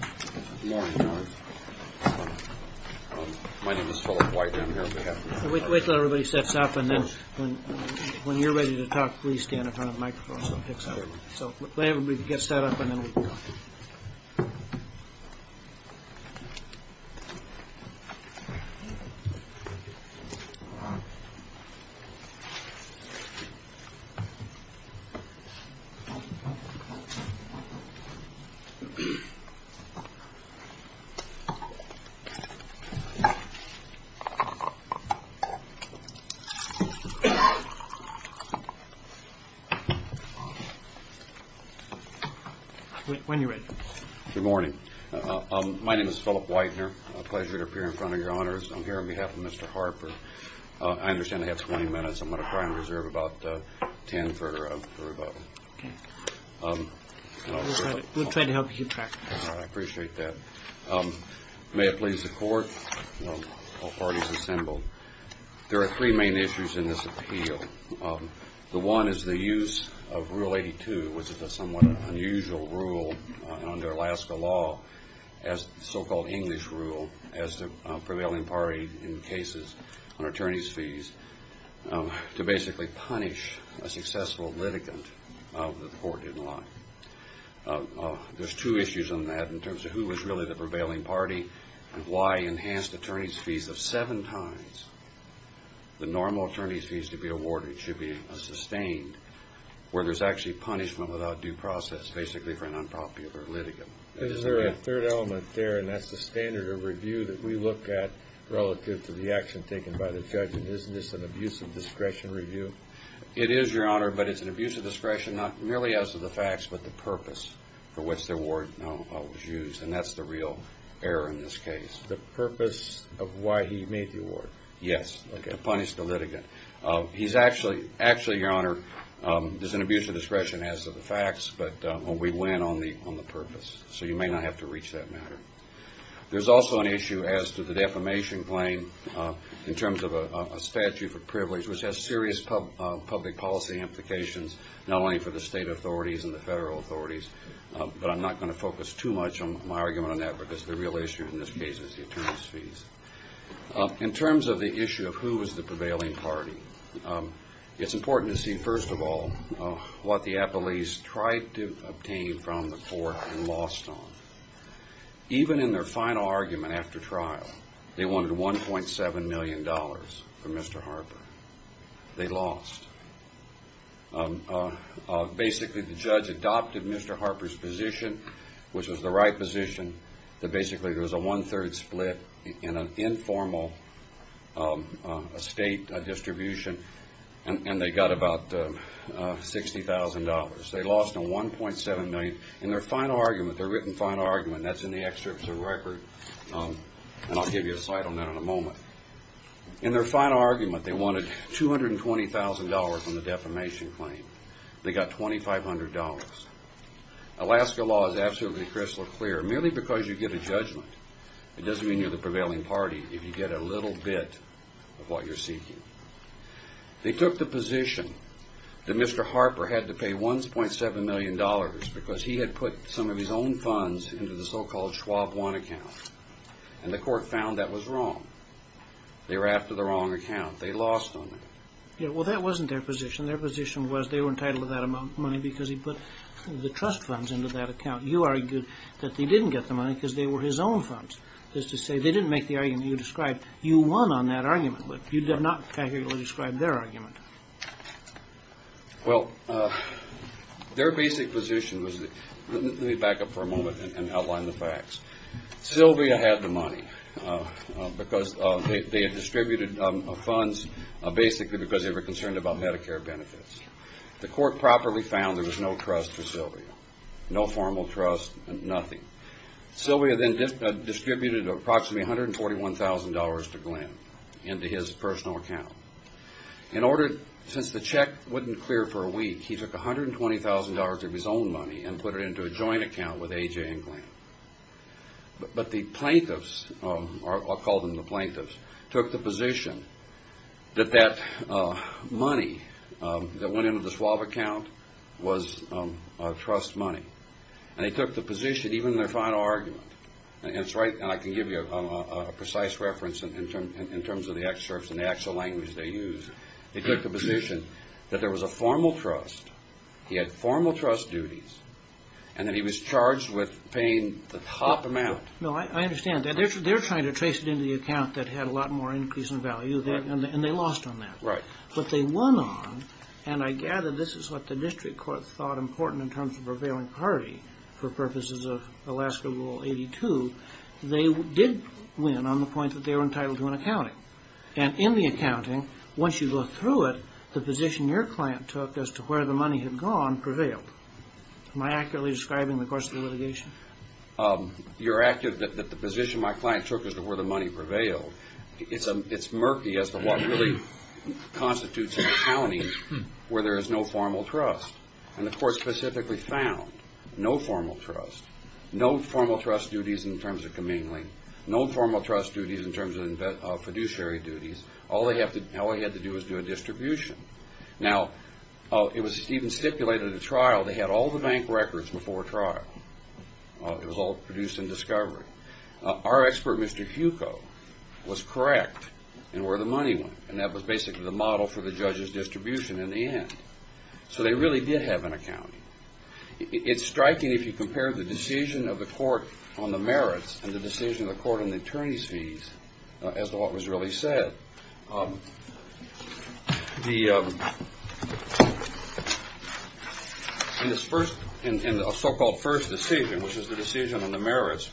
Good morning, everyone. My name is Philip White. I'm here on behalf of the Harper Family Trust. Wait until everybody sets up, and then when you're ready to talk, please stand in front of the microphone so it picks up. So let everybody get set up, and then we can talk. When you're ready. Good morning. My name is Philip Whitener. A pleasure to appear in front of Your Honors. I'm here on behalf of Mr. Harper. I understand I have 20 minutes. I'm going to try and reserve about 10 for rebuttal. Okay. We'll try to help you keep track. I appreciate that. May it please the Court, all parties assembled, there are three main issues in this appeal. The one is the use of Rule 82, which is a somewhat unusual rule under Alaska law, as the so-called English rule, as the prevailing party in cases on attorney's fees, to basically punish a successful litigant that the Court didn't like. There's two issues on that in terms of who was really the prevailing party and why enhanced attorney's fees of seven times the normal attorney's fees to be awarded should be sustained, where there's actually punishment without due process, basically for an unpopular litigant. Is there a third element there, and that's the standard of review that we look at relative to the action taken by the judge, and isn't this an abuse of discretion review? It is, Your Honor, but it's an abuse of discretion not merely as to the facts, but the purpose for which the award was used, and that's the real error in this case. Punish the purpose of why he made the award? Yes, to punish the litigant. Actually, Your Honor, there's an abuse of discretion as to the facts, but we went on the purpose, so you may not have to reach that matter. There's also an issue as to the defamation claim in terms of a statute for privilege, which has serious public policy implications not only for the state authorities and the federal authorities, but I'm not going to focus too much on my argument on that because the real issue in this case is the attorney's fees. In terms of the issue of who was the prevailing party, it's important to see, first of all, what the appellees tried to obtain from the court and lost on. Even in their final argument after trial, they wanted $1.7 million from Mr. Harper. They lost. Basically, the judge adopted Mr. Harper's position, which was the right position, that basically there was a one-third split in an informal state distribution, and they got about $60,000. They lost $1.7 million. In their final argument, their written final argument, that's in the excerpts of the record, and I'll give you a slide on that in a moment. In their final argument, they wanted $220,000 from the defamation claim. They got $2,500. Alaska law is absolutely crystal clear. Merely because you get a judgment, it doesn't mean you're the prevailing party if you get a little bit of what you're seeking. They took the position that Mr. Harper had to pay $1.7 million because he had put some of his own funds into the so-called Schwab One account, and the court found that was wrong. They were after the wrong account. They lost on that. Well, that wasn't their position. Their position was they were entitled to that amount of money because he put the trust funds into that account. You argued that they didn't get the money because they were his own funds. That is to say, they didn't make the argument you described. You won on that argument, but you did not categorically describe their argument. Well, their basic position was that – let me back up for a moment and outline the facts. Sylvia had the money because they had distributed funds basically because they were concerned about Medicare benefits. The court properly found there was no trust for Sylvia, no formal trust, nothing. Sylvia then distributed approximately $141,000 to Glenn into his personal account. In order – since the check wouldn't clear for a week, he took $120,000 of his own money and put it into a joint account with A.J. and Glenn. But the plaintiffs – I'll call them the plaintiffs – took the position that that money that went into the Schwab account was trust money. And they took the position, even in their final argument – and I can give you a precise reference in terms of the excerpts and the actual language they used – they took the position that there was a formal trust, he had formal trust duties, and that he was charged with paying the top amount. No, I understand that. They're trying to trace it into the account that had a lot more increase in value, and they lost on that. Right. But they won on – and I gather this is what the district court thought important in terms of a prevailing party for purposes of Alaska Rule 82 – they did win on the point that they were entitled to an accounting. And in the accounting, once you go through it, the position your client took as to where the money had gone prevailed. Am I accurately describing the course of the litigation? You're accurate that the position my client took as to where the money prevailed. It's murky as to what really constitutes an accounting where there is no formal trust. And the court specifically found no formal trust, no formal trust duties in terms of commingling, no formal trust duties in terms of fiduciary duties. All they had to do was do a distribution. Now, it was even stipulated at trial they had all the bank records before trial. It was all produced in discovery. Our expert, Mr. Fucco, was correct in where the money went, and that was basically the model for the judge's distribution in the end. So they really did have an accounting. It's striking if you compare the decision of the court on the merits and the decision of the court on the attorney's fees as to what was really said. In the so-called first decision, which is the decision on the merits,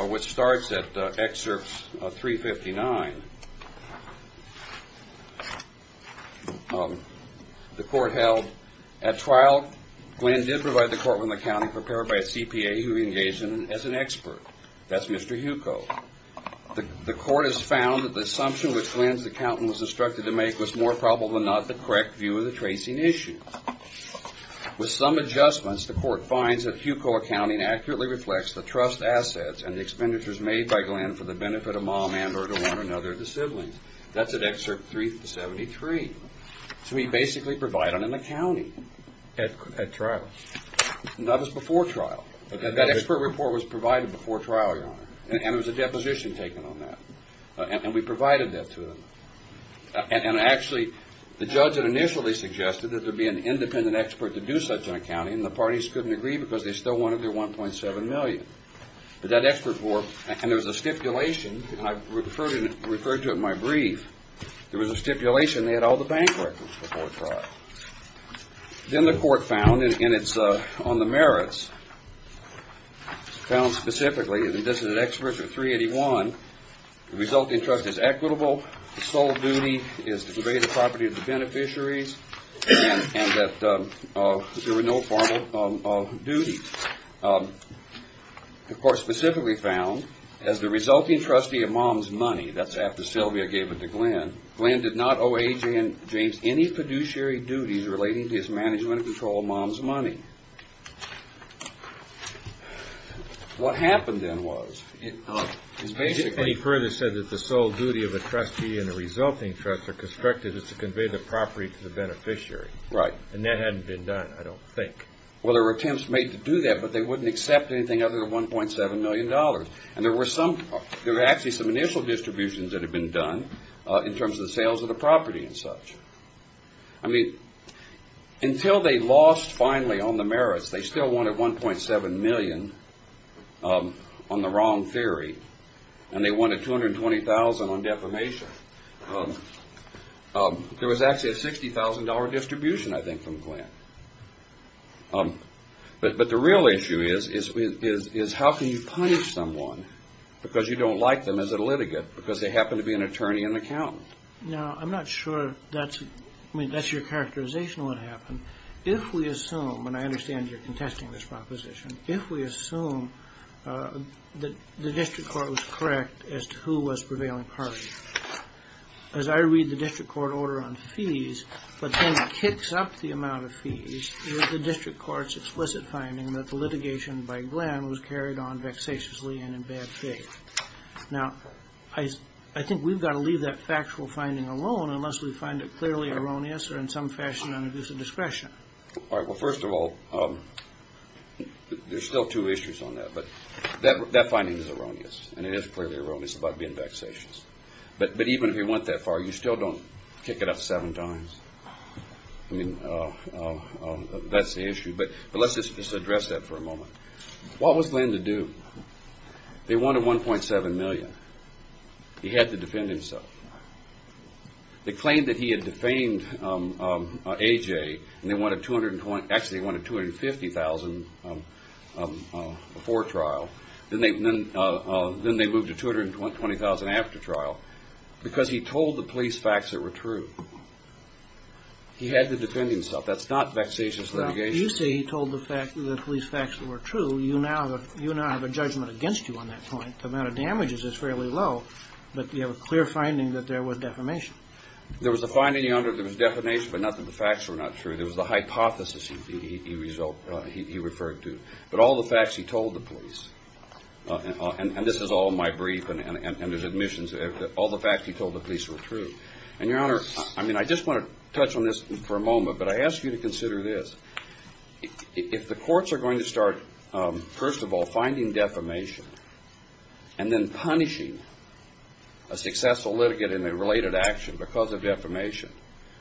which starts at excerpts 359, the court held, at trial, Glenn did provide the court with an accounting prepared by a CPA who he engaged in as an expert. That's Mr. Fucco. The court has found that the assumption which Glenn's accountant was instructed to make was more probable than not the correct view of the tracing issue. With some adjustments, the court finds that Fucco accounting accurately reflects the trust assets and the expenditures made by Glenn for the benefit of mom and or to one another of the siblings. That's at excerpt 373. So he basically provided an accounting. At trial. That was before trial. That expert report was provided before trial, Your Honor. And there was a deposition taken on that. And we provided that to them. And actually, the judge had initially suggested that there be an independent expert to do such an accounting, and the parties couldn't agree because they still wanted their 1.7 million. But that expert report, and there was a stipulation, and I referred to it in my brief, there was a stipulation they had all the bank records before trial. Then the court found, and it's on the merits, found specifically, and this is at excerpt 381, the resulting trust is equitable, the sole duty is to convey the property to the beneficiaries, and that there were no formal duties. The court specifically found, as the resulting trustee of mom's money, that's after Sylvia gave it to Glenn, Glenn did not owe A.J. and James any fiduciary duties relating to his management of control of mom's money. What happened then was, is basically. And he further said that the sole duty of the trustee and the resulting trust are constructed is to convey the property to the beneficiary. Right. And that hadn't been done, I don't think. Well, there were attempts made to do that, but they wouldn't accept anything other than $1.7 million. And there were actually some initial distributions that had been done in terms of the sales of the property and such. I mean, until they lost finally on the merits, they still wanted $1.7 million on the wrong theory, and they wanted $220,000 on defamation. There was actually a $60,000 distribution, I think, from Glenn. But the real issue is how can you punish someone because you don't like them as a litigant because they happen to be an attorney and accountant? Now, I'm not sure that's your characterization of what happened. If we assume, and I understand you're contesting this proposition, if we assume that the district court was correct as to who was prevailing party, as I read the district court order on fees, what then kicks up the amount of fees is the district court's explicit finding that the litigation by Glenn was carried on vexatiously and in bad faith. Now, I think we've got to leave that factual finding alone unless we find it clearly erroneous or in some fashion an abuse of discretion. All right. Well, first of all, there's still two issues on that. That finding is erroneous, and it is clearly erroneous about being vexatious. But even if you went that far, you still don't kick it up seven times. That's the issue. But let's just address that for a moment. What was Glenn to do? They wanted $1.7 million. He had to defend himself. They claimed that he had defamed A.J., and they wanted $250,000 before trial. Then they moved to $220,000 after trial because he told the police facts that were true. He had to defend himself. That's not vexatious litigation. You say he told the police facts that were true. You now have a judgment against you on that point. The amount of damages is fairly low, but you have a clear finding that there was defamation. There was a finding, Your Honor, there was defamation, but not that the facts were not true. It was the hypothesis he referred to. But all the facts he told the police, and this is all in my brief and his admissions, all the facts he told the police were true. And, Your Honor, I mean, I just want to touch on this for a moment, but I ask you to consider this. If the courts are going to start, first of all, finding defamation and then punishing a successful litigant in a related action because of defamation,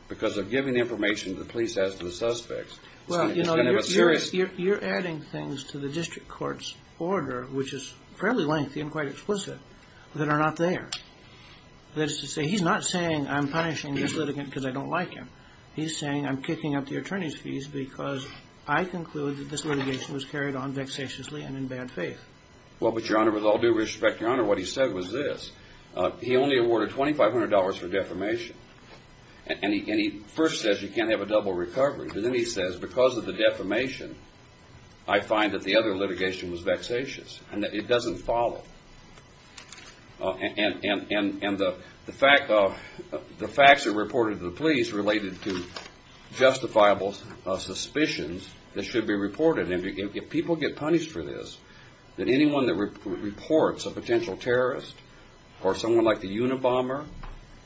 because of giving information to the police as to the suspects, it's going to be serious. You're adding things to the district court's order, which is fairly lengthy and quite explicit, that are not there. That is to say, he's not saying, I'm punishing this litigant because I don't like him. He's saying, I'm kicking up the attorney's fees because I conclude that this litigation was carried on vexatiously and in bad faith. Well, but, Your Honor, with all due respect, Your Honor, what he said was this. He only awarded $2,500 for defamation. And he first says you can't have a double recovery, but then he says because of the defamation, I find that the other litigation was vexatious and that it doesn't follow. And the facts are reported to the police related to justifiable suspicions that should be reported. And if people get punished for this, then anyone that reports a potential terrorist or someone like the Unabomber,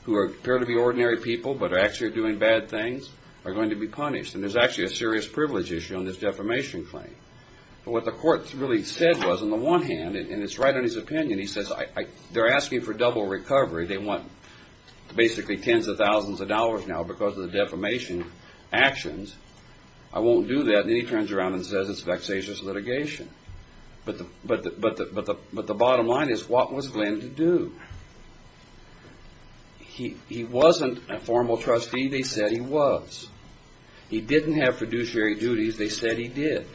who appear to be ordinary people but are actually doing bad things, are going to be punished. And there's actually a serious privilege issue on this defamation claim. But what the court really said was, on the one hand, and it's right on his opinion, he says they're asking for double recovery. They want basically tens of thousands of dollars now because of the defamation actions. I won't do that. And then he turns around and says it's vexatious litigation. But the bottom line is, what was Glenn to do? He wasn't a formal trustee. They said he was. He didn't have fiduciary duties. They said he did.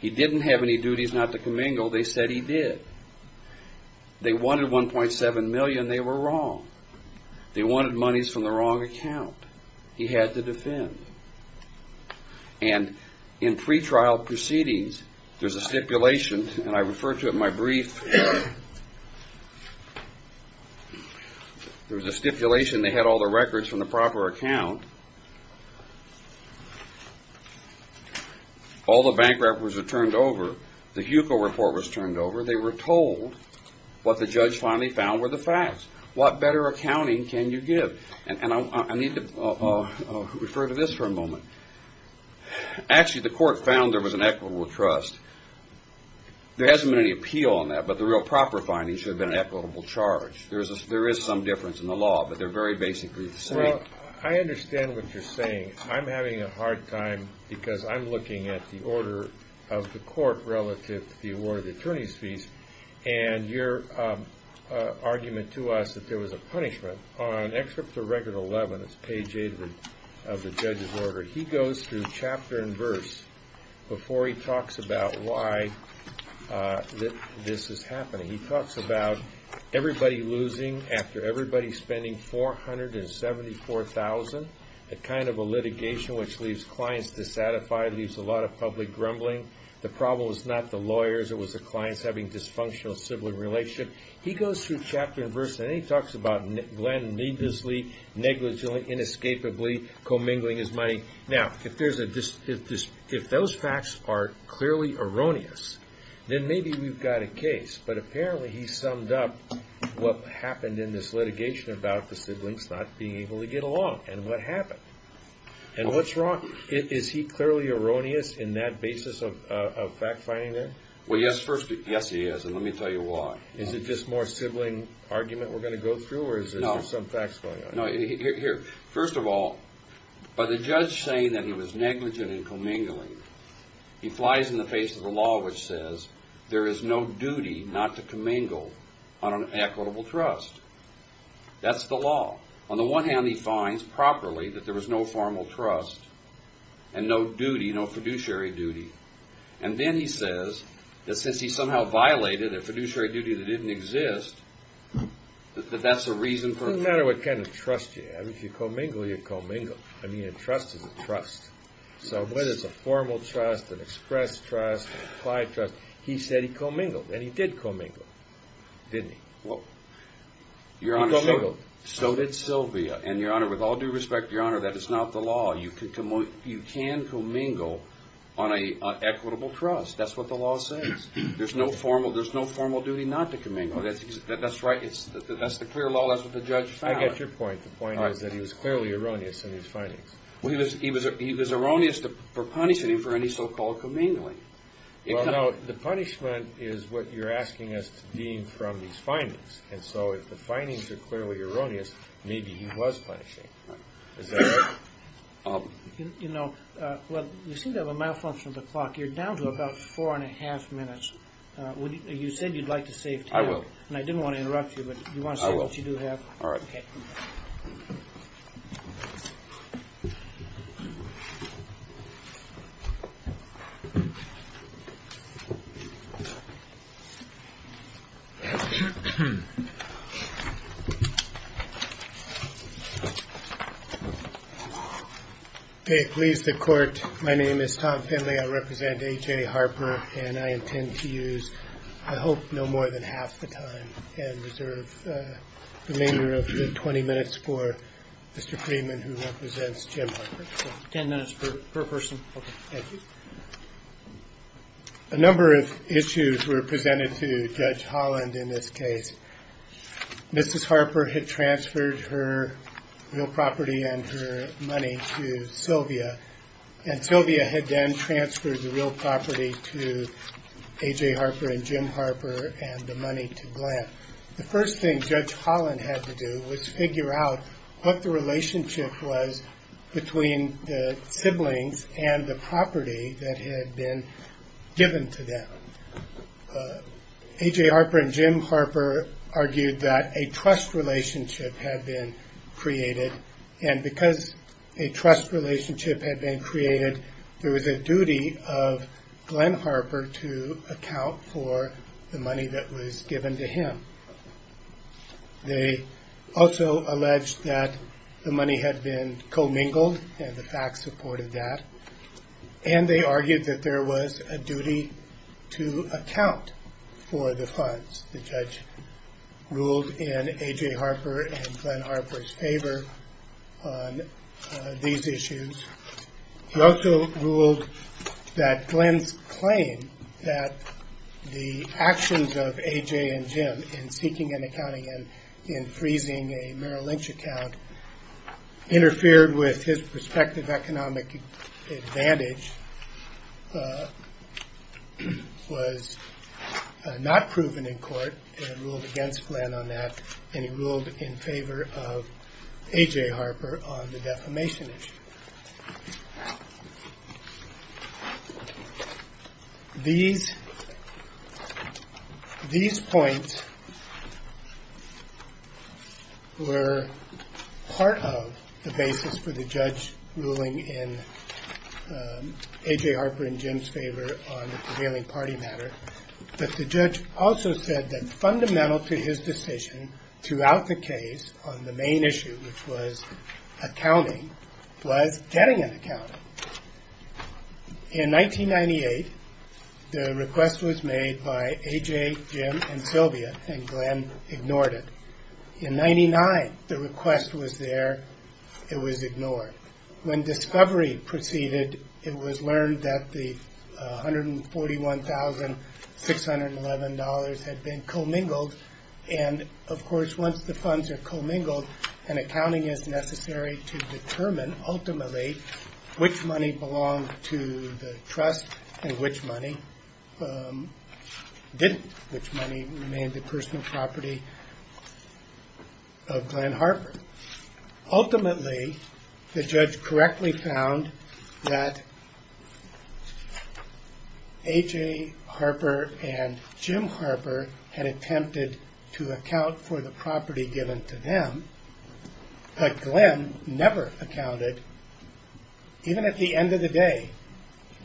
He didn't have any duties not to commingle. They said he did. They wanted $1.7 million. They were wrong. They wanted monies from the wrong account. He had to defend. And in pretrial proceedings, there's a stipulation, and I refer to it in my brief. There was a stipulation. They had all the records from the proper account. All the bank records were turned over. The HUCO report was turned over. They were told what the judge finally found were the facts. What better accounting can you give? And I need to refer to this for a moment. Actually, the court found there was an equitable trust. There hasn't been any appeal on that, but the real proper findings should have been an equitable charge. Well, I understand what you're saying. I'm having a hard time because I'm looking at the order of the court relative to the award of the attorney's fees, and your argument to us that there was a punishment. On Excerpt to Record 11, it's page 8 of the judge's order. He goes through chapter and verse before he talks about why this is happening. He talks about everybody losing after everybody spending $474,000, a kind of a litigation which leaves clients dissatisfied, leaves a lot of public grumbling. The problem was not the lawyers. It was the clients having dysfunctional sibling relationship. He goes through chapter and verse, and then he talks about Glenn needlessly, negligently, inescapably commingling his money. Now, if those facts are clearly erroneous, then maybe we've got a case. But apparently he summed up what happened in this litigation about the siblings not being able to get along and what happened. And what's wrong? Is he clearly erroneous in that basis of fact-finding then? Well, yes, first, yes, he is, and let me tell you why. Is it just more sibling argument we're going to go through, or is there some facts going on? No, here, first of all, by the judge saying that he was negligent in commingling, he flies in the face of a law which says there is no duty not to commingle on an equitable trust. That's the law. On the one hand, he finds properly that there was no formal trust and no duty, no fiduciary duty. And then he says that since he somehow violated a fiduciary duty that didn't exist, that that's a reason for a commingle. It doesn't matter what kind of trust you have. If you commingle, you commingle. I mean, a trust is a trust. So whether it's a formal trust, an express trust, an implied trust, he said he commingled, and he did commingle, didn't he? Well, Your Honor, so did Sylvia. And, Your Honor, with all due respect, Your Honor, that is not the law. You can commingle on an equitable trust. That's what the law says. There's no formal duty not to commingle. That's right. That's the clear law. That's what the judge found. I get your point. The point is that he was clearly erroneous in his findings. Well, he was erroneous for punishing him for any so-called commingling. Well, no, the punishment is what you're asking us to deem from these findings. And so if the findings are clearly erroneous, maybe he was punishing. Right. Is that right? You know, well, you seem to have a malfunction of the clock. You're down to about four and a half minutes. You said you'd like to save time. I will. And I didn't want to interrupt you, but do you want to say what you do have? I will. All right. Okay. Okay, please, the court. My name is Tom Finley. I represent A.J. Harper, and I intend to use, I hope, no more than half the time and reserve the remainder of the 20 minutes for Mr. Freeman, who represents Jim Harper. Ten minutes per person. Okay. Thank you. A number of issues were presented to Judge Holland in this case. Mrs. Harper had transferred her real property and her money to Sylvia, and Sylvia had then transferred the real property to A.J. Harper and Jim Harper and the money to Glenn. The first thing Judge Holland had to do was figure out what the relationship was between the siblings and the property that had been given to them. A.J. Harper and Jim Harper argued that a trust relationship had been created, and because a trust relationship had been created, there was a duty of Glenn Harper to account for the money that was given to him. They also alleged that the money had been commingled, and the facts supported that, and they argued that there was a duty to account for the funds. The judge ruled in A.J. Harper and Glenn Harper's favor on these issues. He also ruled that Glenn's claim that the actions of A.J. and Jim in seeking an accounting and in freezing a Merrill Lynch account interfered with his prospective economic advantage was not proven in court, and ruled against Glenn on that, and he ruled in favor of A.J. Harper on the defamation issue. These points were part of the basis for the judge ruling in A.J. Harper and Jim's favor on the prevailing party matter, but the judge also said that fundamental to his decision throughout the case on the main issue, which was accounting, was getting an accounting. In 1998, the request was made by A.J., Jim, and Sylvia, and Glenn ignored it. In 1999, the request was there. It was ignored. When discovery proceeded, it was learned that the $141,611 had been commingled, and, of course, once the funds are commingled, an accounting is necessary to determine, ultimately, which money belonged to the trust and which money didn't, which money remained the personal property of Glenn Harper. Ultimately, the judge correctly found that A.J. Harper and Jim Harper had attempted to account for the property given to them, but Glenn never accounted, even at the end of the day,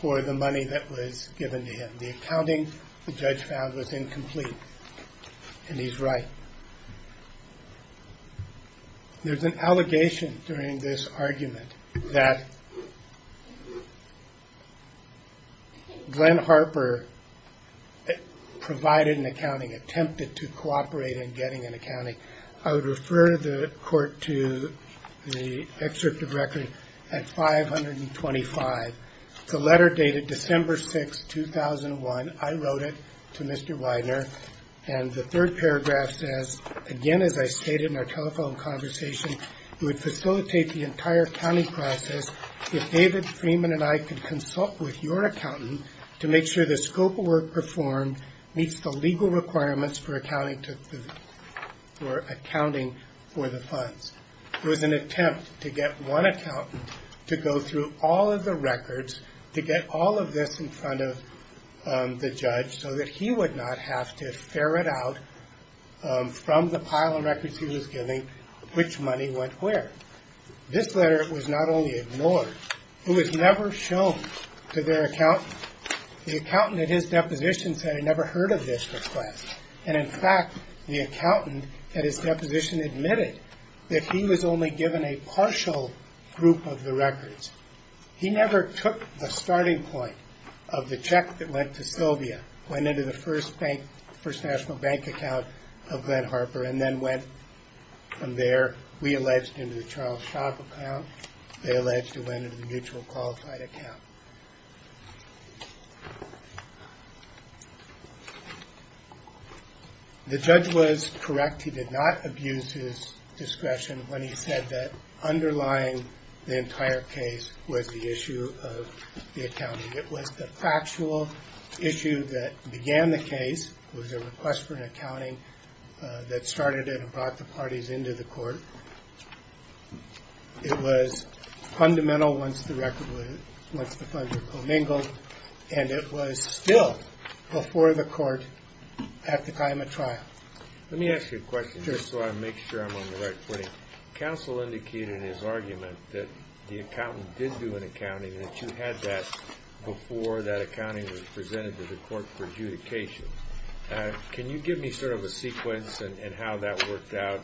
for the money that was given to him. The accounting, the judge found, was incomplete, and he's right. There's an allegation during this argument that Glenn Harper provided an accounting, attempted to cooperate in getting an accounting. I would refer the court to the excerpt of record at 525. It's a letter dated December 6, 2001. I wrote it to Mr. Widener, and the third paragraph says, again, as I stated in our telephone conversation, it would facilitate the entire accounting process if David Freeman and I could consult with your accountant to make sure the scope of work performed meets the legal requirements for accounting for the funds. It was an attempt to get one accountant to go through all of the records, to get all of this in front of the judge, so that he would not have to ferret out from the pile of records he was giving which money went where. This letter was not only ignored, it was never shown to their accountant. The accountant at his deposition said he never heard of this request, and, in fact, the accountant at his deposition admitted that he was only given a partial group of the records. He never took the starting point of the check that went to Sylvia, went into the First National Bank account of Glenn Harper, and then went from there, we alleged, into the Charles Shock account. They alleged it went into the mutual qualified account. The judge was correct. He did not abuse his discretion when he said that underlying the entire case was the issue of the accounting. It was the factual issue that began the case, was a request for an accounting that started it and brought the parties into the court. It was fundamental once the funds were commingled, and it was still before the court at the time of trial. Let me ask you a question, just so I make sure I'm on the right footing. Counsel indicated in his argument that the accountant did do an accounting, that you had that before that accounting was presented to the court for adjudication. Can you give me sort of a sequence in how that worked out,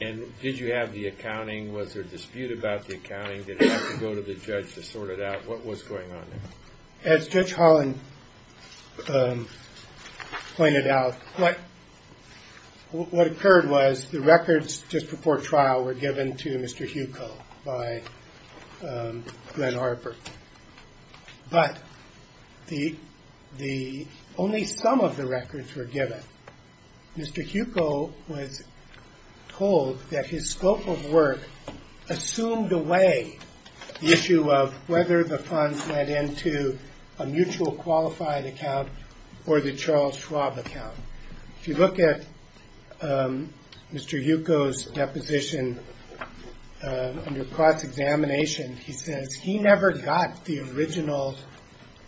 and did you have the accounting? Was there a dispute about the accounting? Did it have to go to the judge to sort it out? What was going on there? As Judge Holland pointed out, what occurred was the records just before trial were given to Mr. Huko by Glenn Harper. But only some of the records were given. Mr. Huko was told that his scope of work assumed away the issue of whether the funds went into a mutual qualified account or the Charles Schwab account. If you look at Mr. Huko's deposition under cross-examination, he says he never got the original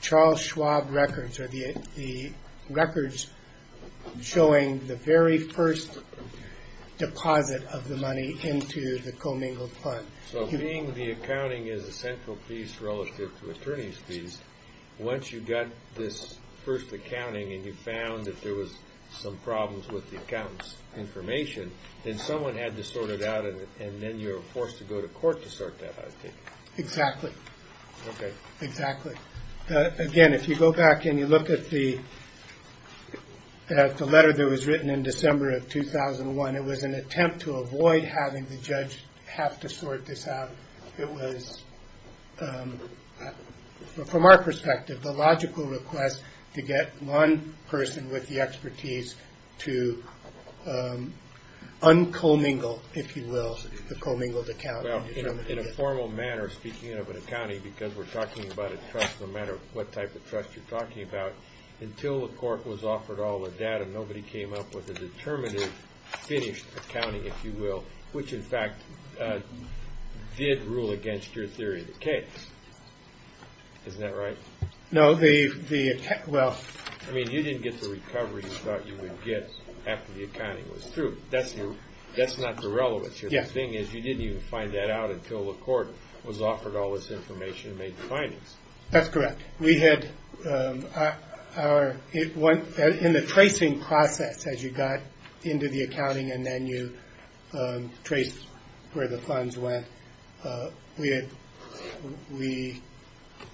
Charles Schwab records, or the records showing the very first deposit of the money into the commingled fund. So being the accounting is a central piece relative to attorney's fees, once you got this first accounting and you found that there was some problems with the accountant's information, then someone had to sort it out, and then you were forced to go to court to sort that out. Exactly. Again, if you go back and you look at the letter that was written in December of 2001, it was an attempt to avoid having the judge have to sort this out. It was, from our perspective, the logical request to get one person with the expertise to un-commingle, if you will, the commingled accounting. In a formal manner, speaking of an accounting, because we're talking about a trust, no matter what type of trust you're talking about, until the court was offered all the data, nobody came up with a determinative, finished accounting, if you will, which, in fact, did rule against your theory of the case. Isn't that right? No. I mean, you didn't get the recovery you thought you would get after the accounting was through. That's not the relevance here. The thing is, you didn't even find that out until the court was offered all this information and made the findings. That's correct. In the tracing process, as you got into the accounting and then you traced where the funds went, we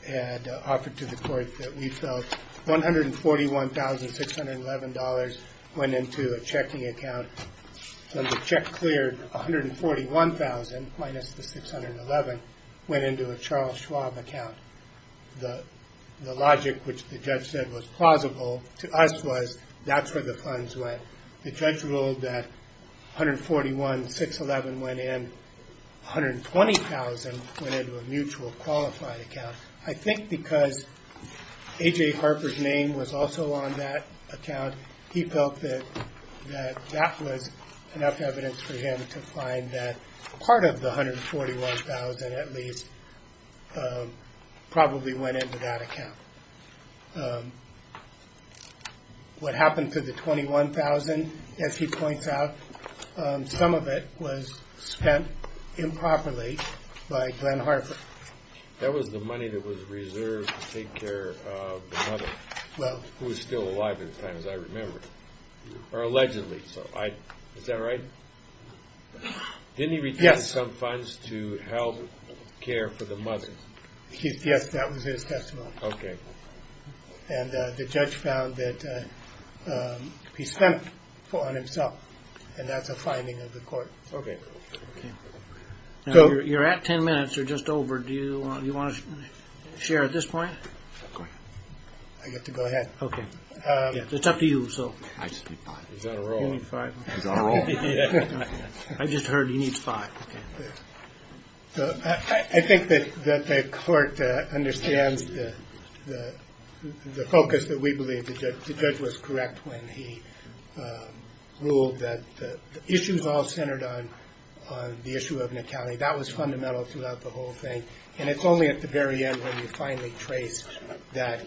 had offered to the court that we felt $141,611 went into a checking account. When the check cleared, $141,000 minus the $611 went into a Charles Schwab account. The logic, which the judge said was plausible to us, was that's where the funds went. The judge ruled that $141,611 went in. $120,000 went into a mutual qualified account. I think because A.J. Harper's name was also on that account, he felt that that was enough evidence for him to find that part of the $141,000 at least probably went into that account. What happened to the $21,000, as he points out, some of it was spent improperly by Glenn Harper. That was the money that was reserved to take care of the mother, who was still alive at the time, as I remember, or allegedly. Is that right? Didn't he retain some funds to help care for the mother? Yes, that was his testimony. Okay. The judge found that he spent it on himself, and that's a finding of the court. Okay. You're at ten minutes. You're just over. Do you want to share at this point? Go ahead. I get to go ahead? Okay. It's up to you. I just need five. He's on a roll. You need five? He's on a roll. I just heard he needs five. Okay. I think that the court understands the focus that we believe. The judge was correct when he ruled that the issues all centered on the issue of Nicali. That was fundamental throughout the whole thing, and it's only at the very end when you finally trace that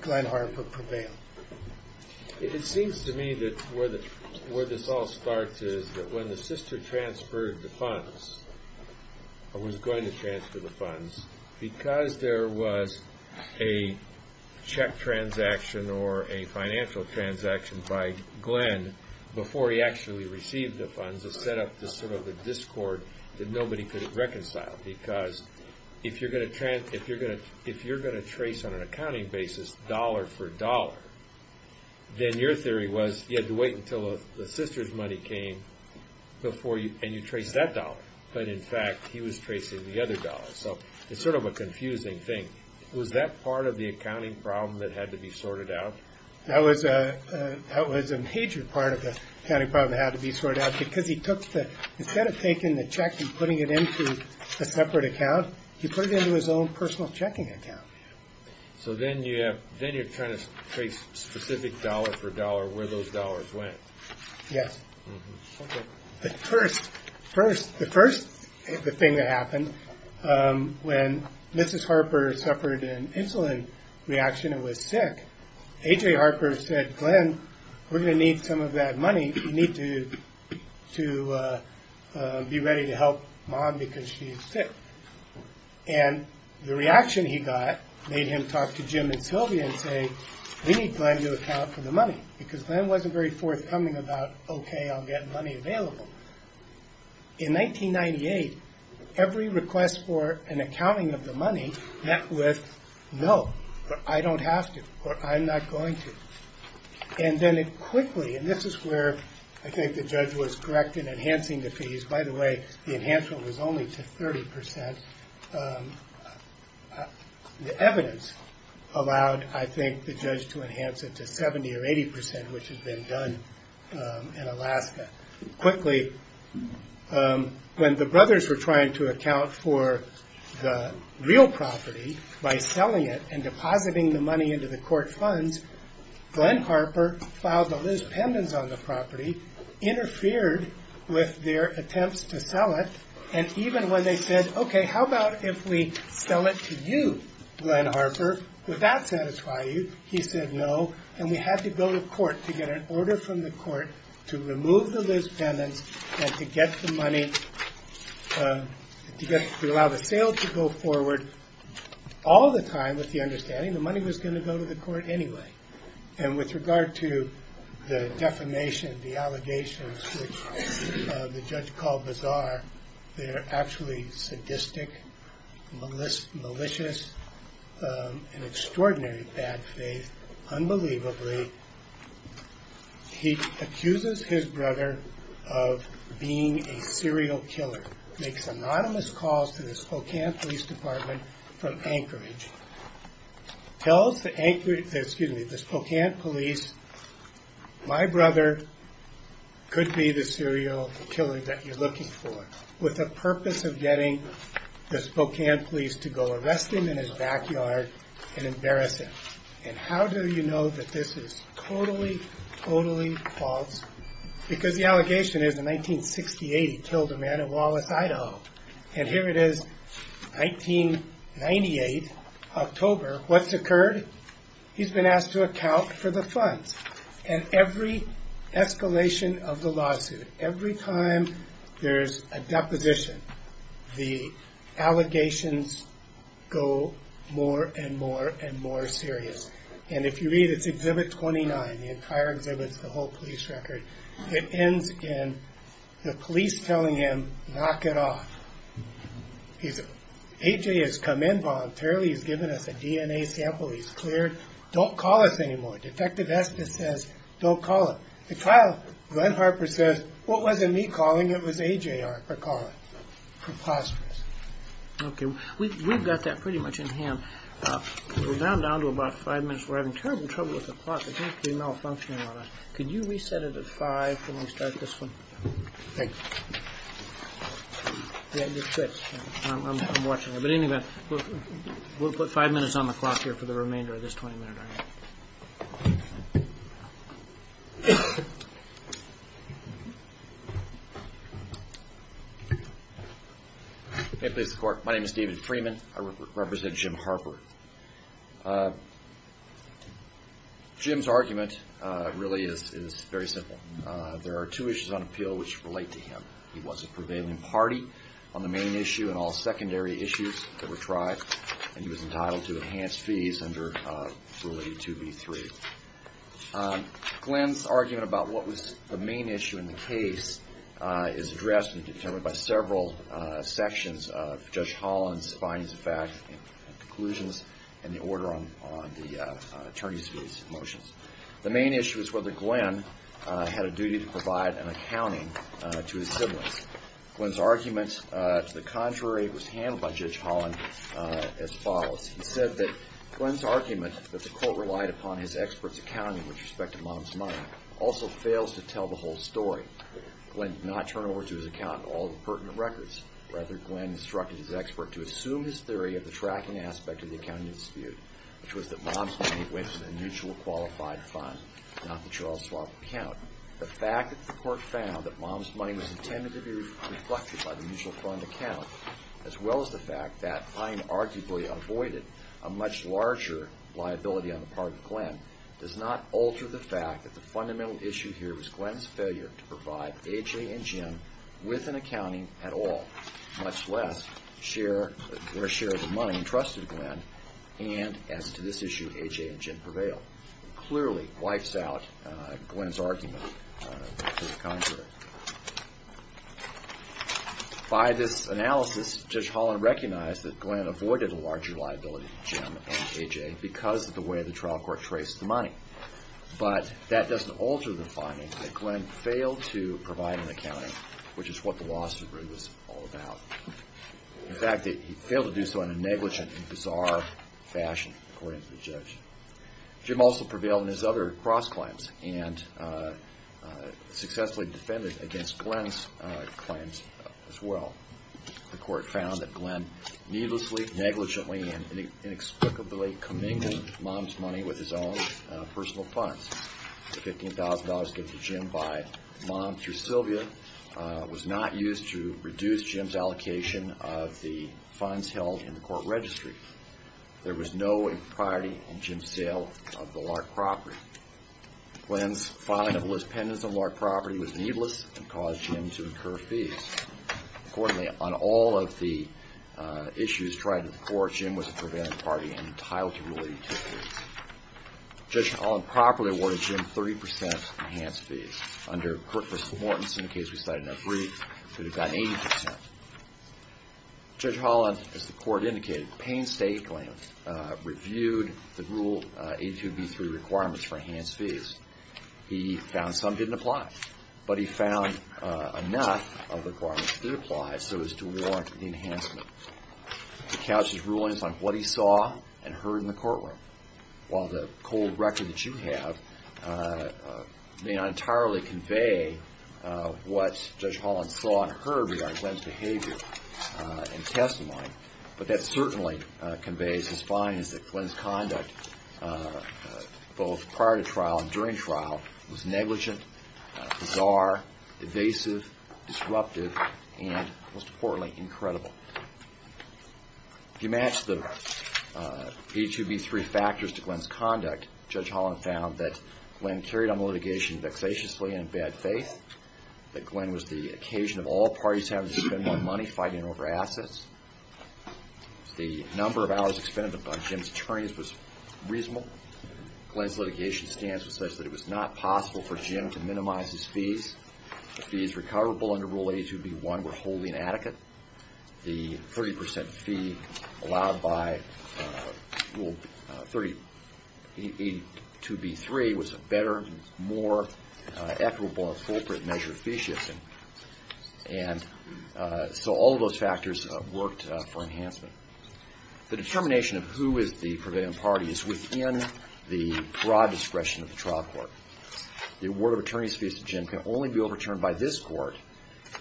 Glenn Harper prevailed. It seems to me that where this all starts is that when the sister transferred the funds, or was going to transfer the funds, because there was a check transaction or a financial transaction by Glenn before he actually received the funds, it set up this sort of a discord that nobody could reconcile. Because if you're going to trace on an accounting basis dollar for dollar, then your theory was you had to wait until the sister's money came and you traced that dollar. But, in fact, he was tracing the other dollar. So it's sort of a confusing thing. Was that part of the accounting problem that had to be sorted out? That was a major part of the accounting problem that had to be sorted out, because instead of taking the check and putting it into a separate account, he put it into his own personal checking account. So then you're trying to trace specific dollar for dollar where those dollars went. Yes. The first thing that happened when Mrs. Harper suffered an insulin reaction and was sick, AJ Harper said, Glenn, we're going to need some of that money. We need to be ready to help mom because she's sick. And the reaction he got made him talk to Jim and Sylvia and say, we need Glenn to account for the money, because Glenn wasn't very forthcoming about, OK, I'll get money available. In 1998, every request for an accounting of the money met with, no, I don't have to, or I'm not going to. And then it quickly, and this is where I think the judge was correct in enhancing the fees. By the way, the enhancement was only to 30 percent. The evidence allowed, I think, the judge to enhance it to 70 or 80 percent, which has been done in Alaska. Quickly, when the brothers were trying to account for the real property by selling it and depositing the money into the court funds, Glenn Harper filed the Liz pendants on the property, interfered with their attempts to sell it. And even when they said, OK, how about if we sell it to you, Glenn Harper, would that satisfy you? He said no. And we had to go to court to get an order from the court to remove the Liz pendants and to get the money, to allow the sale to go forward. All the time, with the understanding the money was going to go to the court anyway. And with regard to the defamation, the allegations, which the judge called bizarre, they're actually sadistic, malicious, and extraordinarily bad faith. Unbelievably, he accuses his brother of being a serial killer, makes anonymous calls to the Spokane Police Department from Anchorage, tells the Spokane police, my brother could be the serial killer that you're looking for, with the purpose of getting the Spokane police to go arrest him in his backyard and embarrass him. And how do you know that this is totally, totally false? Because the allegation is, in 1968, he killed a man in Wallace, Idaho. And here it is, 1998, October, what's occurred? He's been asked to account for the funds. And every escalation of the lawsuit, every time there's a deposition, the allegations go more and more and more serious. And if you read, it's Exhibit 29, the entire exhibit, the whole police record. It ends in the police telling him, knock it off. AJ has come in voluntarily, he's given us a DNA sample, he's cleared, don't call us anymore. Defective espouse says, don't call it. The trial, Glenn Harper says, what wasn't me calling, it was AJ Harper calling. Preposterous. Okay, we've got that pretty much in hand. We're now down to about five minutes. We're having terrible trouble with the clock, it seems to be malfunctioning on us. Could you reset it at five when we start this one? Thank you. Yeah, it just quits. I'm watching it. But in any event, we'll put five minutes on the clock here for the remainder of this 20-minute argument. Hey, please, the Court. My name is David Freeman. I represent Jim Harper. Jim's argument really is very simple. There are two issues on appeal which relate to him. He was a prevailing party on the main issue and all secondary issues that were tried, and he was entitled to enhanced fees under Rule 82b-3. Glenn's argument about what was the main issue in the case is addressed and determined by several sections of Judge Holland's findings of facts and conclusions and the order on the attorney's fees motions. The main issue is whether Glenn had a duty to provide an accounting to his siblings. Glenn's argument to the contrary was handled by Judge Holland as follows. He said that Glenn's argument that the Court relied upon his expert's accounting with respect to Mom's money also fails to tell the whole story. Glenn did not turn over to his accountant all the pertinent records. Rather, Glenn instructed his expert to assume his theory of the tracking aspect of the accounting dispute, which was that Mom's money went to the mutual qualified fund, not the Charles Schwab account. The fact that the Court found that Mom's money was intended to be reflected by the mutual fund account, as well as the fact that fine arguably avoided a much larger liability on the part of Glenn, does not alter the fact that the fundamental issue here was Glenn's failure to provide A.J. and Jim with an accounting at all, much less share the money entrusted to Glenn and, as to this issue, A.J. and Jim prevail, clearly wipes out Glenn's argument to the contrary. By this analysis, Judge Holland recognized that Glenn avoided a larger liability to Jim and A.J. because of the way the trial court traced the money. But that doesn't alter the finding that Glenn failed to provide an accounting, which is what the lawsuit really was all about. In fact, he failed to do so in a negligent and bizarre fashion, according to the judge. Jim also prevailed in his other cross-claims and successfully defended against Glenn's claims as well. The Court found that Glenn needlessly, negligently, and inexplicably commingled Mom's money with his own personal funds. The $15,000 gift to Jim by Mom through Sylvia was not used to reduce Jim's allocation of the funds held in the court registry. There was no impropriety in Jim's sale of the Lark property. Glenn's filing of a list of pendants on the Lark property was needless and caused Jim to incur fees. Accordingly, on all of the issues tried before, Jim was a prevailing party and entitled to rule the utilities. Judge Holland properly awarded Jim 30% enhanced fees. Under Kirk v. Mortensen, the case we cited in our brief, he would have gotten 80%. Judge Holland, as the Court indicated, painstakingly reviewed the rule A2B3 requirements for enhanced fees. He found some didn't apply. But he found enough of the requirements that did apply so as to warrant the enhancement. He couched his rulings on what he saw and heard in the courtroom. While the cold record that you have may not entirely convey what Judge Holland saw and heard regarding Glenn's behavior and testimony, but that certainly conveys his findings that Glenn's conduct, both prior to trial and during trial, was negligent, bizarre, evasive, disruptive, and most importantly, incredible. To match the A2B3 factors to Glenn's conduct, Judge Holland found that Glenn carried on the litigation vexatiously and in bad faith. That Glenn was the occasion of all parties having to spend more money fighting over assets. The number of hours expended on Jim's attorneys was reasonable. Glenn's litigation stance was such that it was not possible for Jim to minimize his fees. The fees recoverable under Rule A2B1 were wholly inadequate. The 30% fee allowed by Rule A2B3 was a better, more equitable and appropriate measure of fee shifting. And so all of those factors worked for enhancement. The determination of who is the prevailing party is within the broad discretion of the trial court. The award of attorneys fees to Jim can only be overturned by this court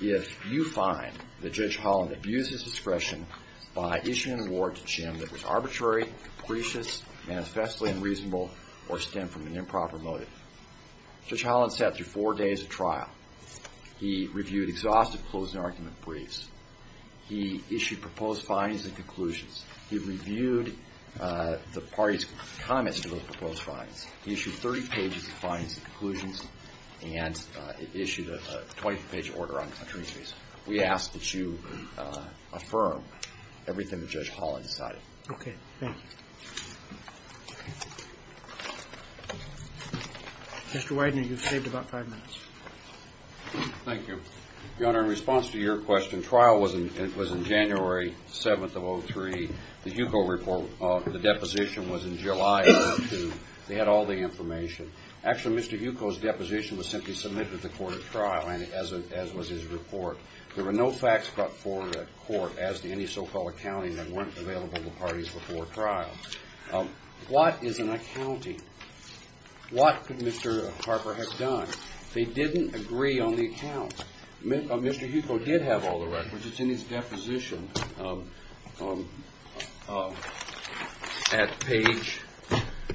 if you find that Judge Holland abused his discretion by issuing an award to Jim that was arbitrary, capricious, manifestly unreasonable, or stemmed from an improper motive. Judge Holland sat through four days of trial. He reviewed exhaustive closing argument briefs. He issued proposed findings and conclusions. He reviewed the party's comments to those proposed findings. He issued 30 pages of findings and conclusions and issued a 20-page order on attorney fees. We ask that you affirm everything that Judge Holland decided. Okay, thank you. Mr. Widener, you've saved about five minutes. Thank you. Your Honor, in response to your question, trial was in January 7th of 2003. The Huco report, the deposition was in July of 2002. They had all the information. Actually, Mr. Huco's deposition was simply submitted to the court at trial, as was his report. There were no facts brought forward at court as to any so-called accounting that weren't available to parties before trial. What is an accounting? What could Mr. Harper have done? They didn't agree on the account. Mr. Huco did have all the records. It's in his deposition at page,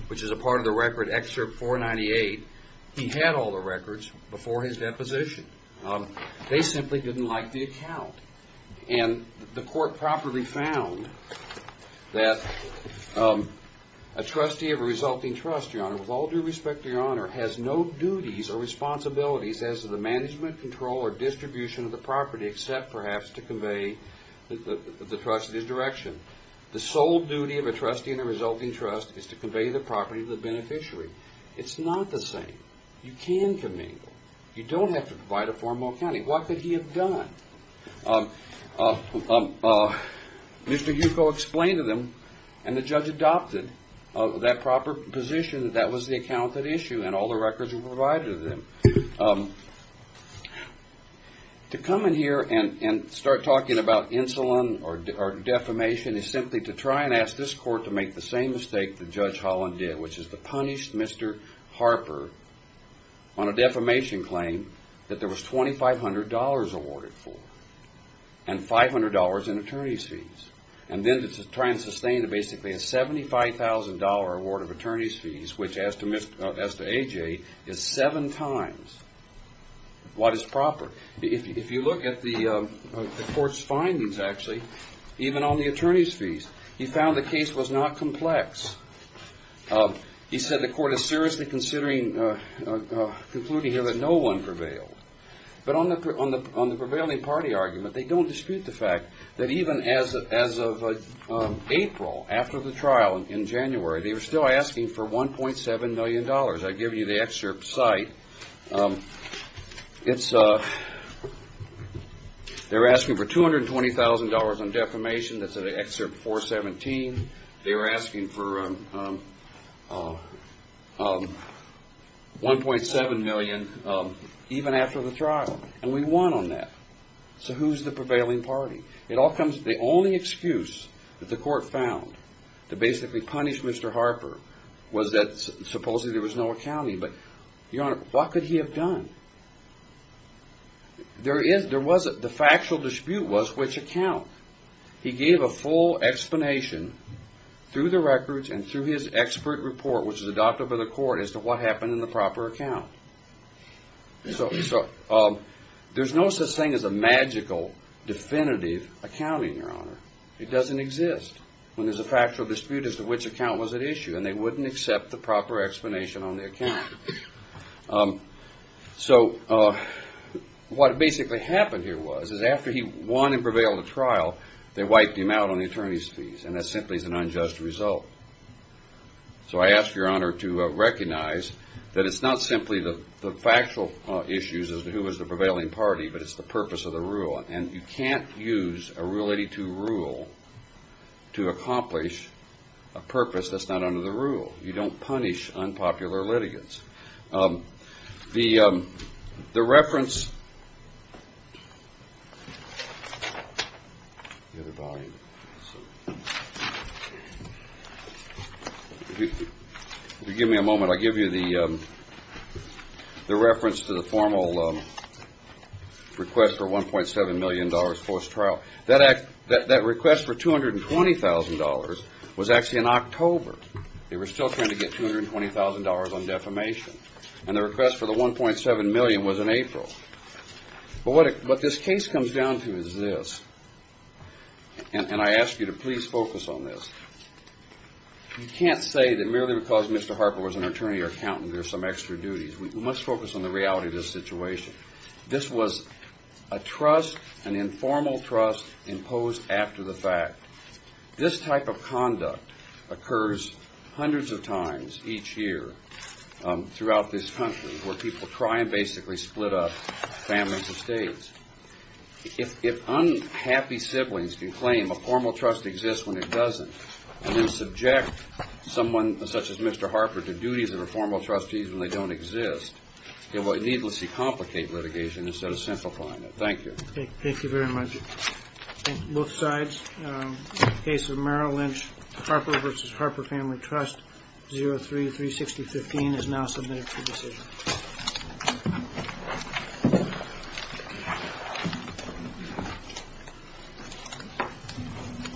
which is a part of the record, excerpt 498. He had all the records before his deposition. They simply didn't like the account. The court properly found that a trustee of a resulting trust, Your Honor, with all due respect to Your Honor, has no duties or responsibilities as to the management, control, or distribution of the property except perhaps to convey the trustee's direction. The sole duty of a trustee in a resulting trust is to convey the property to the beneficiary. It's not the same. You can convey. You don't have to provide a formal accounting. What could he have done? Mr. Huco explained to them, and the judge adopted that proper position that that was the account at issue and all the records were provided to them. To come in here and start talking about insulin or defamation is simply to try and ask this court to make the same mistake that Judge Holland did, which is to punish Mr. Harper on a defamation claim that there was $2,500 awarded for and $500 in attorney's fees, and then to try and sustain basically a $75,000 award of attorney's fees, which as to A.J. is seven times what is proper. If you look at the court's findings, actually, even on the attorney's fees, he found the case was not complex. He said the court is seriously considering concluding here that no one prevailed. But on the prevailing party argument, they don't dispute the fact that even as of April, after the trial in January, they were still asking for $1.7 million. I give you the excerpt site. They were asking for $220,000 on defamation. That's in excerpt 417. They were asking for $1.7 million even after the trial, and we won on that. So who's the prevailing party? The only excuse that the court found to basically punish Mr. Harper was that supposedly there was no accounting. But, Your Honor, what could he have done? The factual dispute was which account. He gave a full explanation through the records and through his expert report, which was adopted by the court, as to what happened in the proper account. So there's no such thing as a magical definitive accounting, Your Honor. It doesn't exist when there's a factual dispute as to which account was at issue, and they wouldn't accept the proper explanation on the account. So what basically happened here was is after he won and prevailed the trial, they wiped him out on the attorney's fees, and that simply is an unjust result. So I ask Your Honor to recognize that it's not simply the factual issues as to who is the prevailing party, but it's the purpose of the rule, and you can't use a Rule 82 rule to accomplish a purpose that's not under the rule. You don't punish unpopular litigants. The reference to the formal request for $1.7 million post-trial, that request for $220,000 was actually in October. They were still trying to get $220,000 on defamation, and the request for the $1.7 million was in April. But what this case comes down to is this, and I ask you to please focus on this. You can't say that merely because Mr. Harper was an attorney or accountant there's some extra duties. We must focus on the reality of this situation. This was a trust, an informal trust, imposed after the fact. This type of conduct occurs hundreds of times each year throughout this country, where people try and basically split up families and states. If unhappy siblings can claim a formal trust exists when it doesn't, and then subject someone such as Mr. Harper to duties that are formal trustees when they don't exist, it will needlessly complicate litigation instead of simplifying it. Thank you. Thank you very much. Thank you. Both sides. In the case of Merrill Lynch, Harper v. Harper Family Trust, 03-360-15 is now submitted to decision.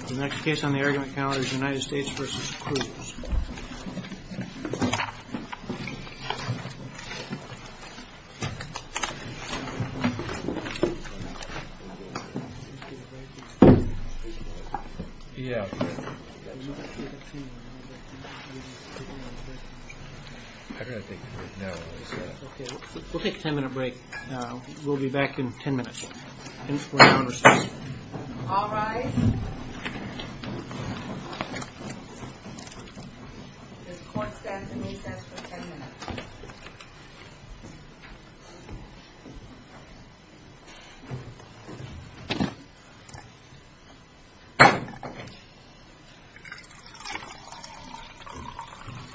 The next case on the argument calendar is United States v. Cruz. We'll take a ten minute break. We'll be back in ten minutes. In four hours. All rise. This court stands in recess for ten minutes.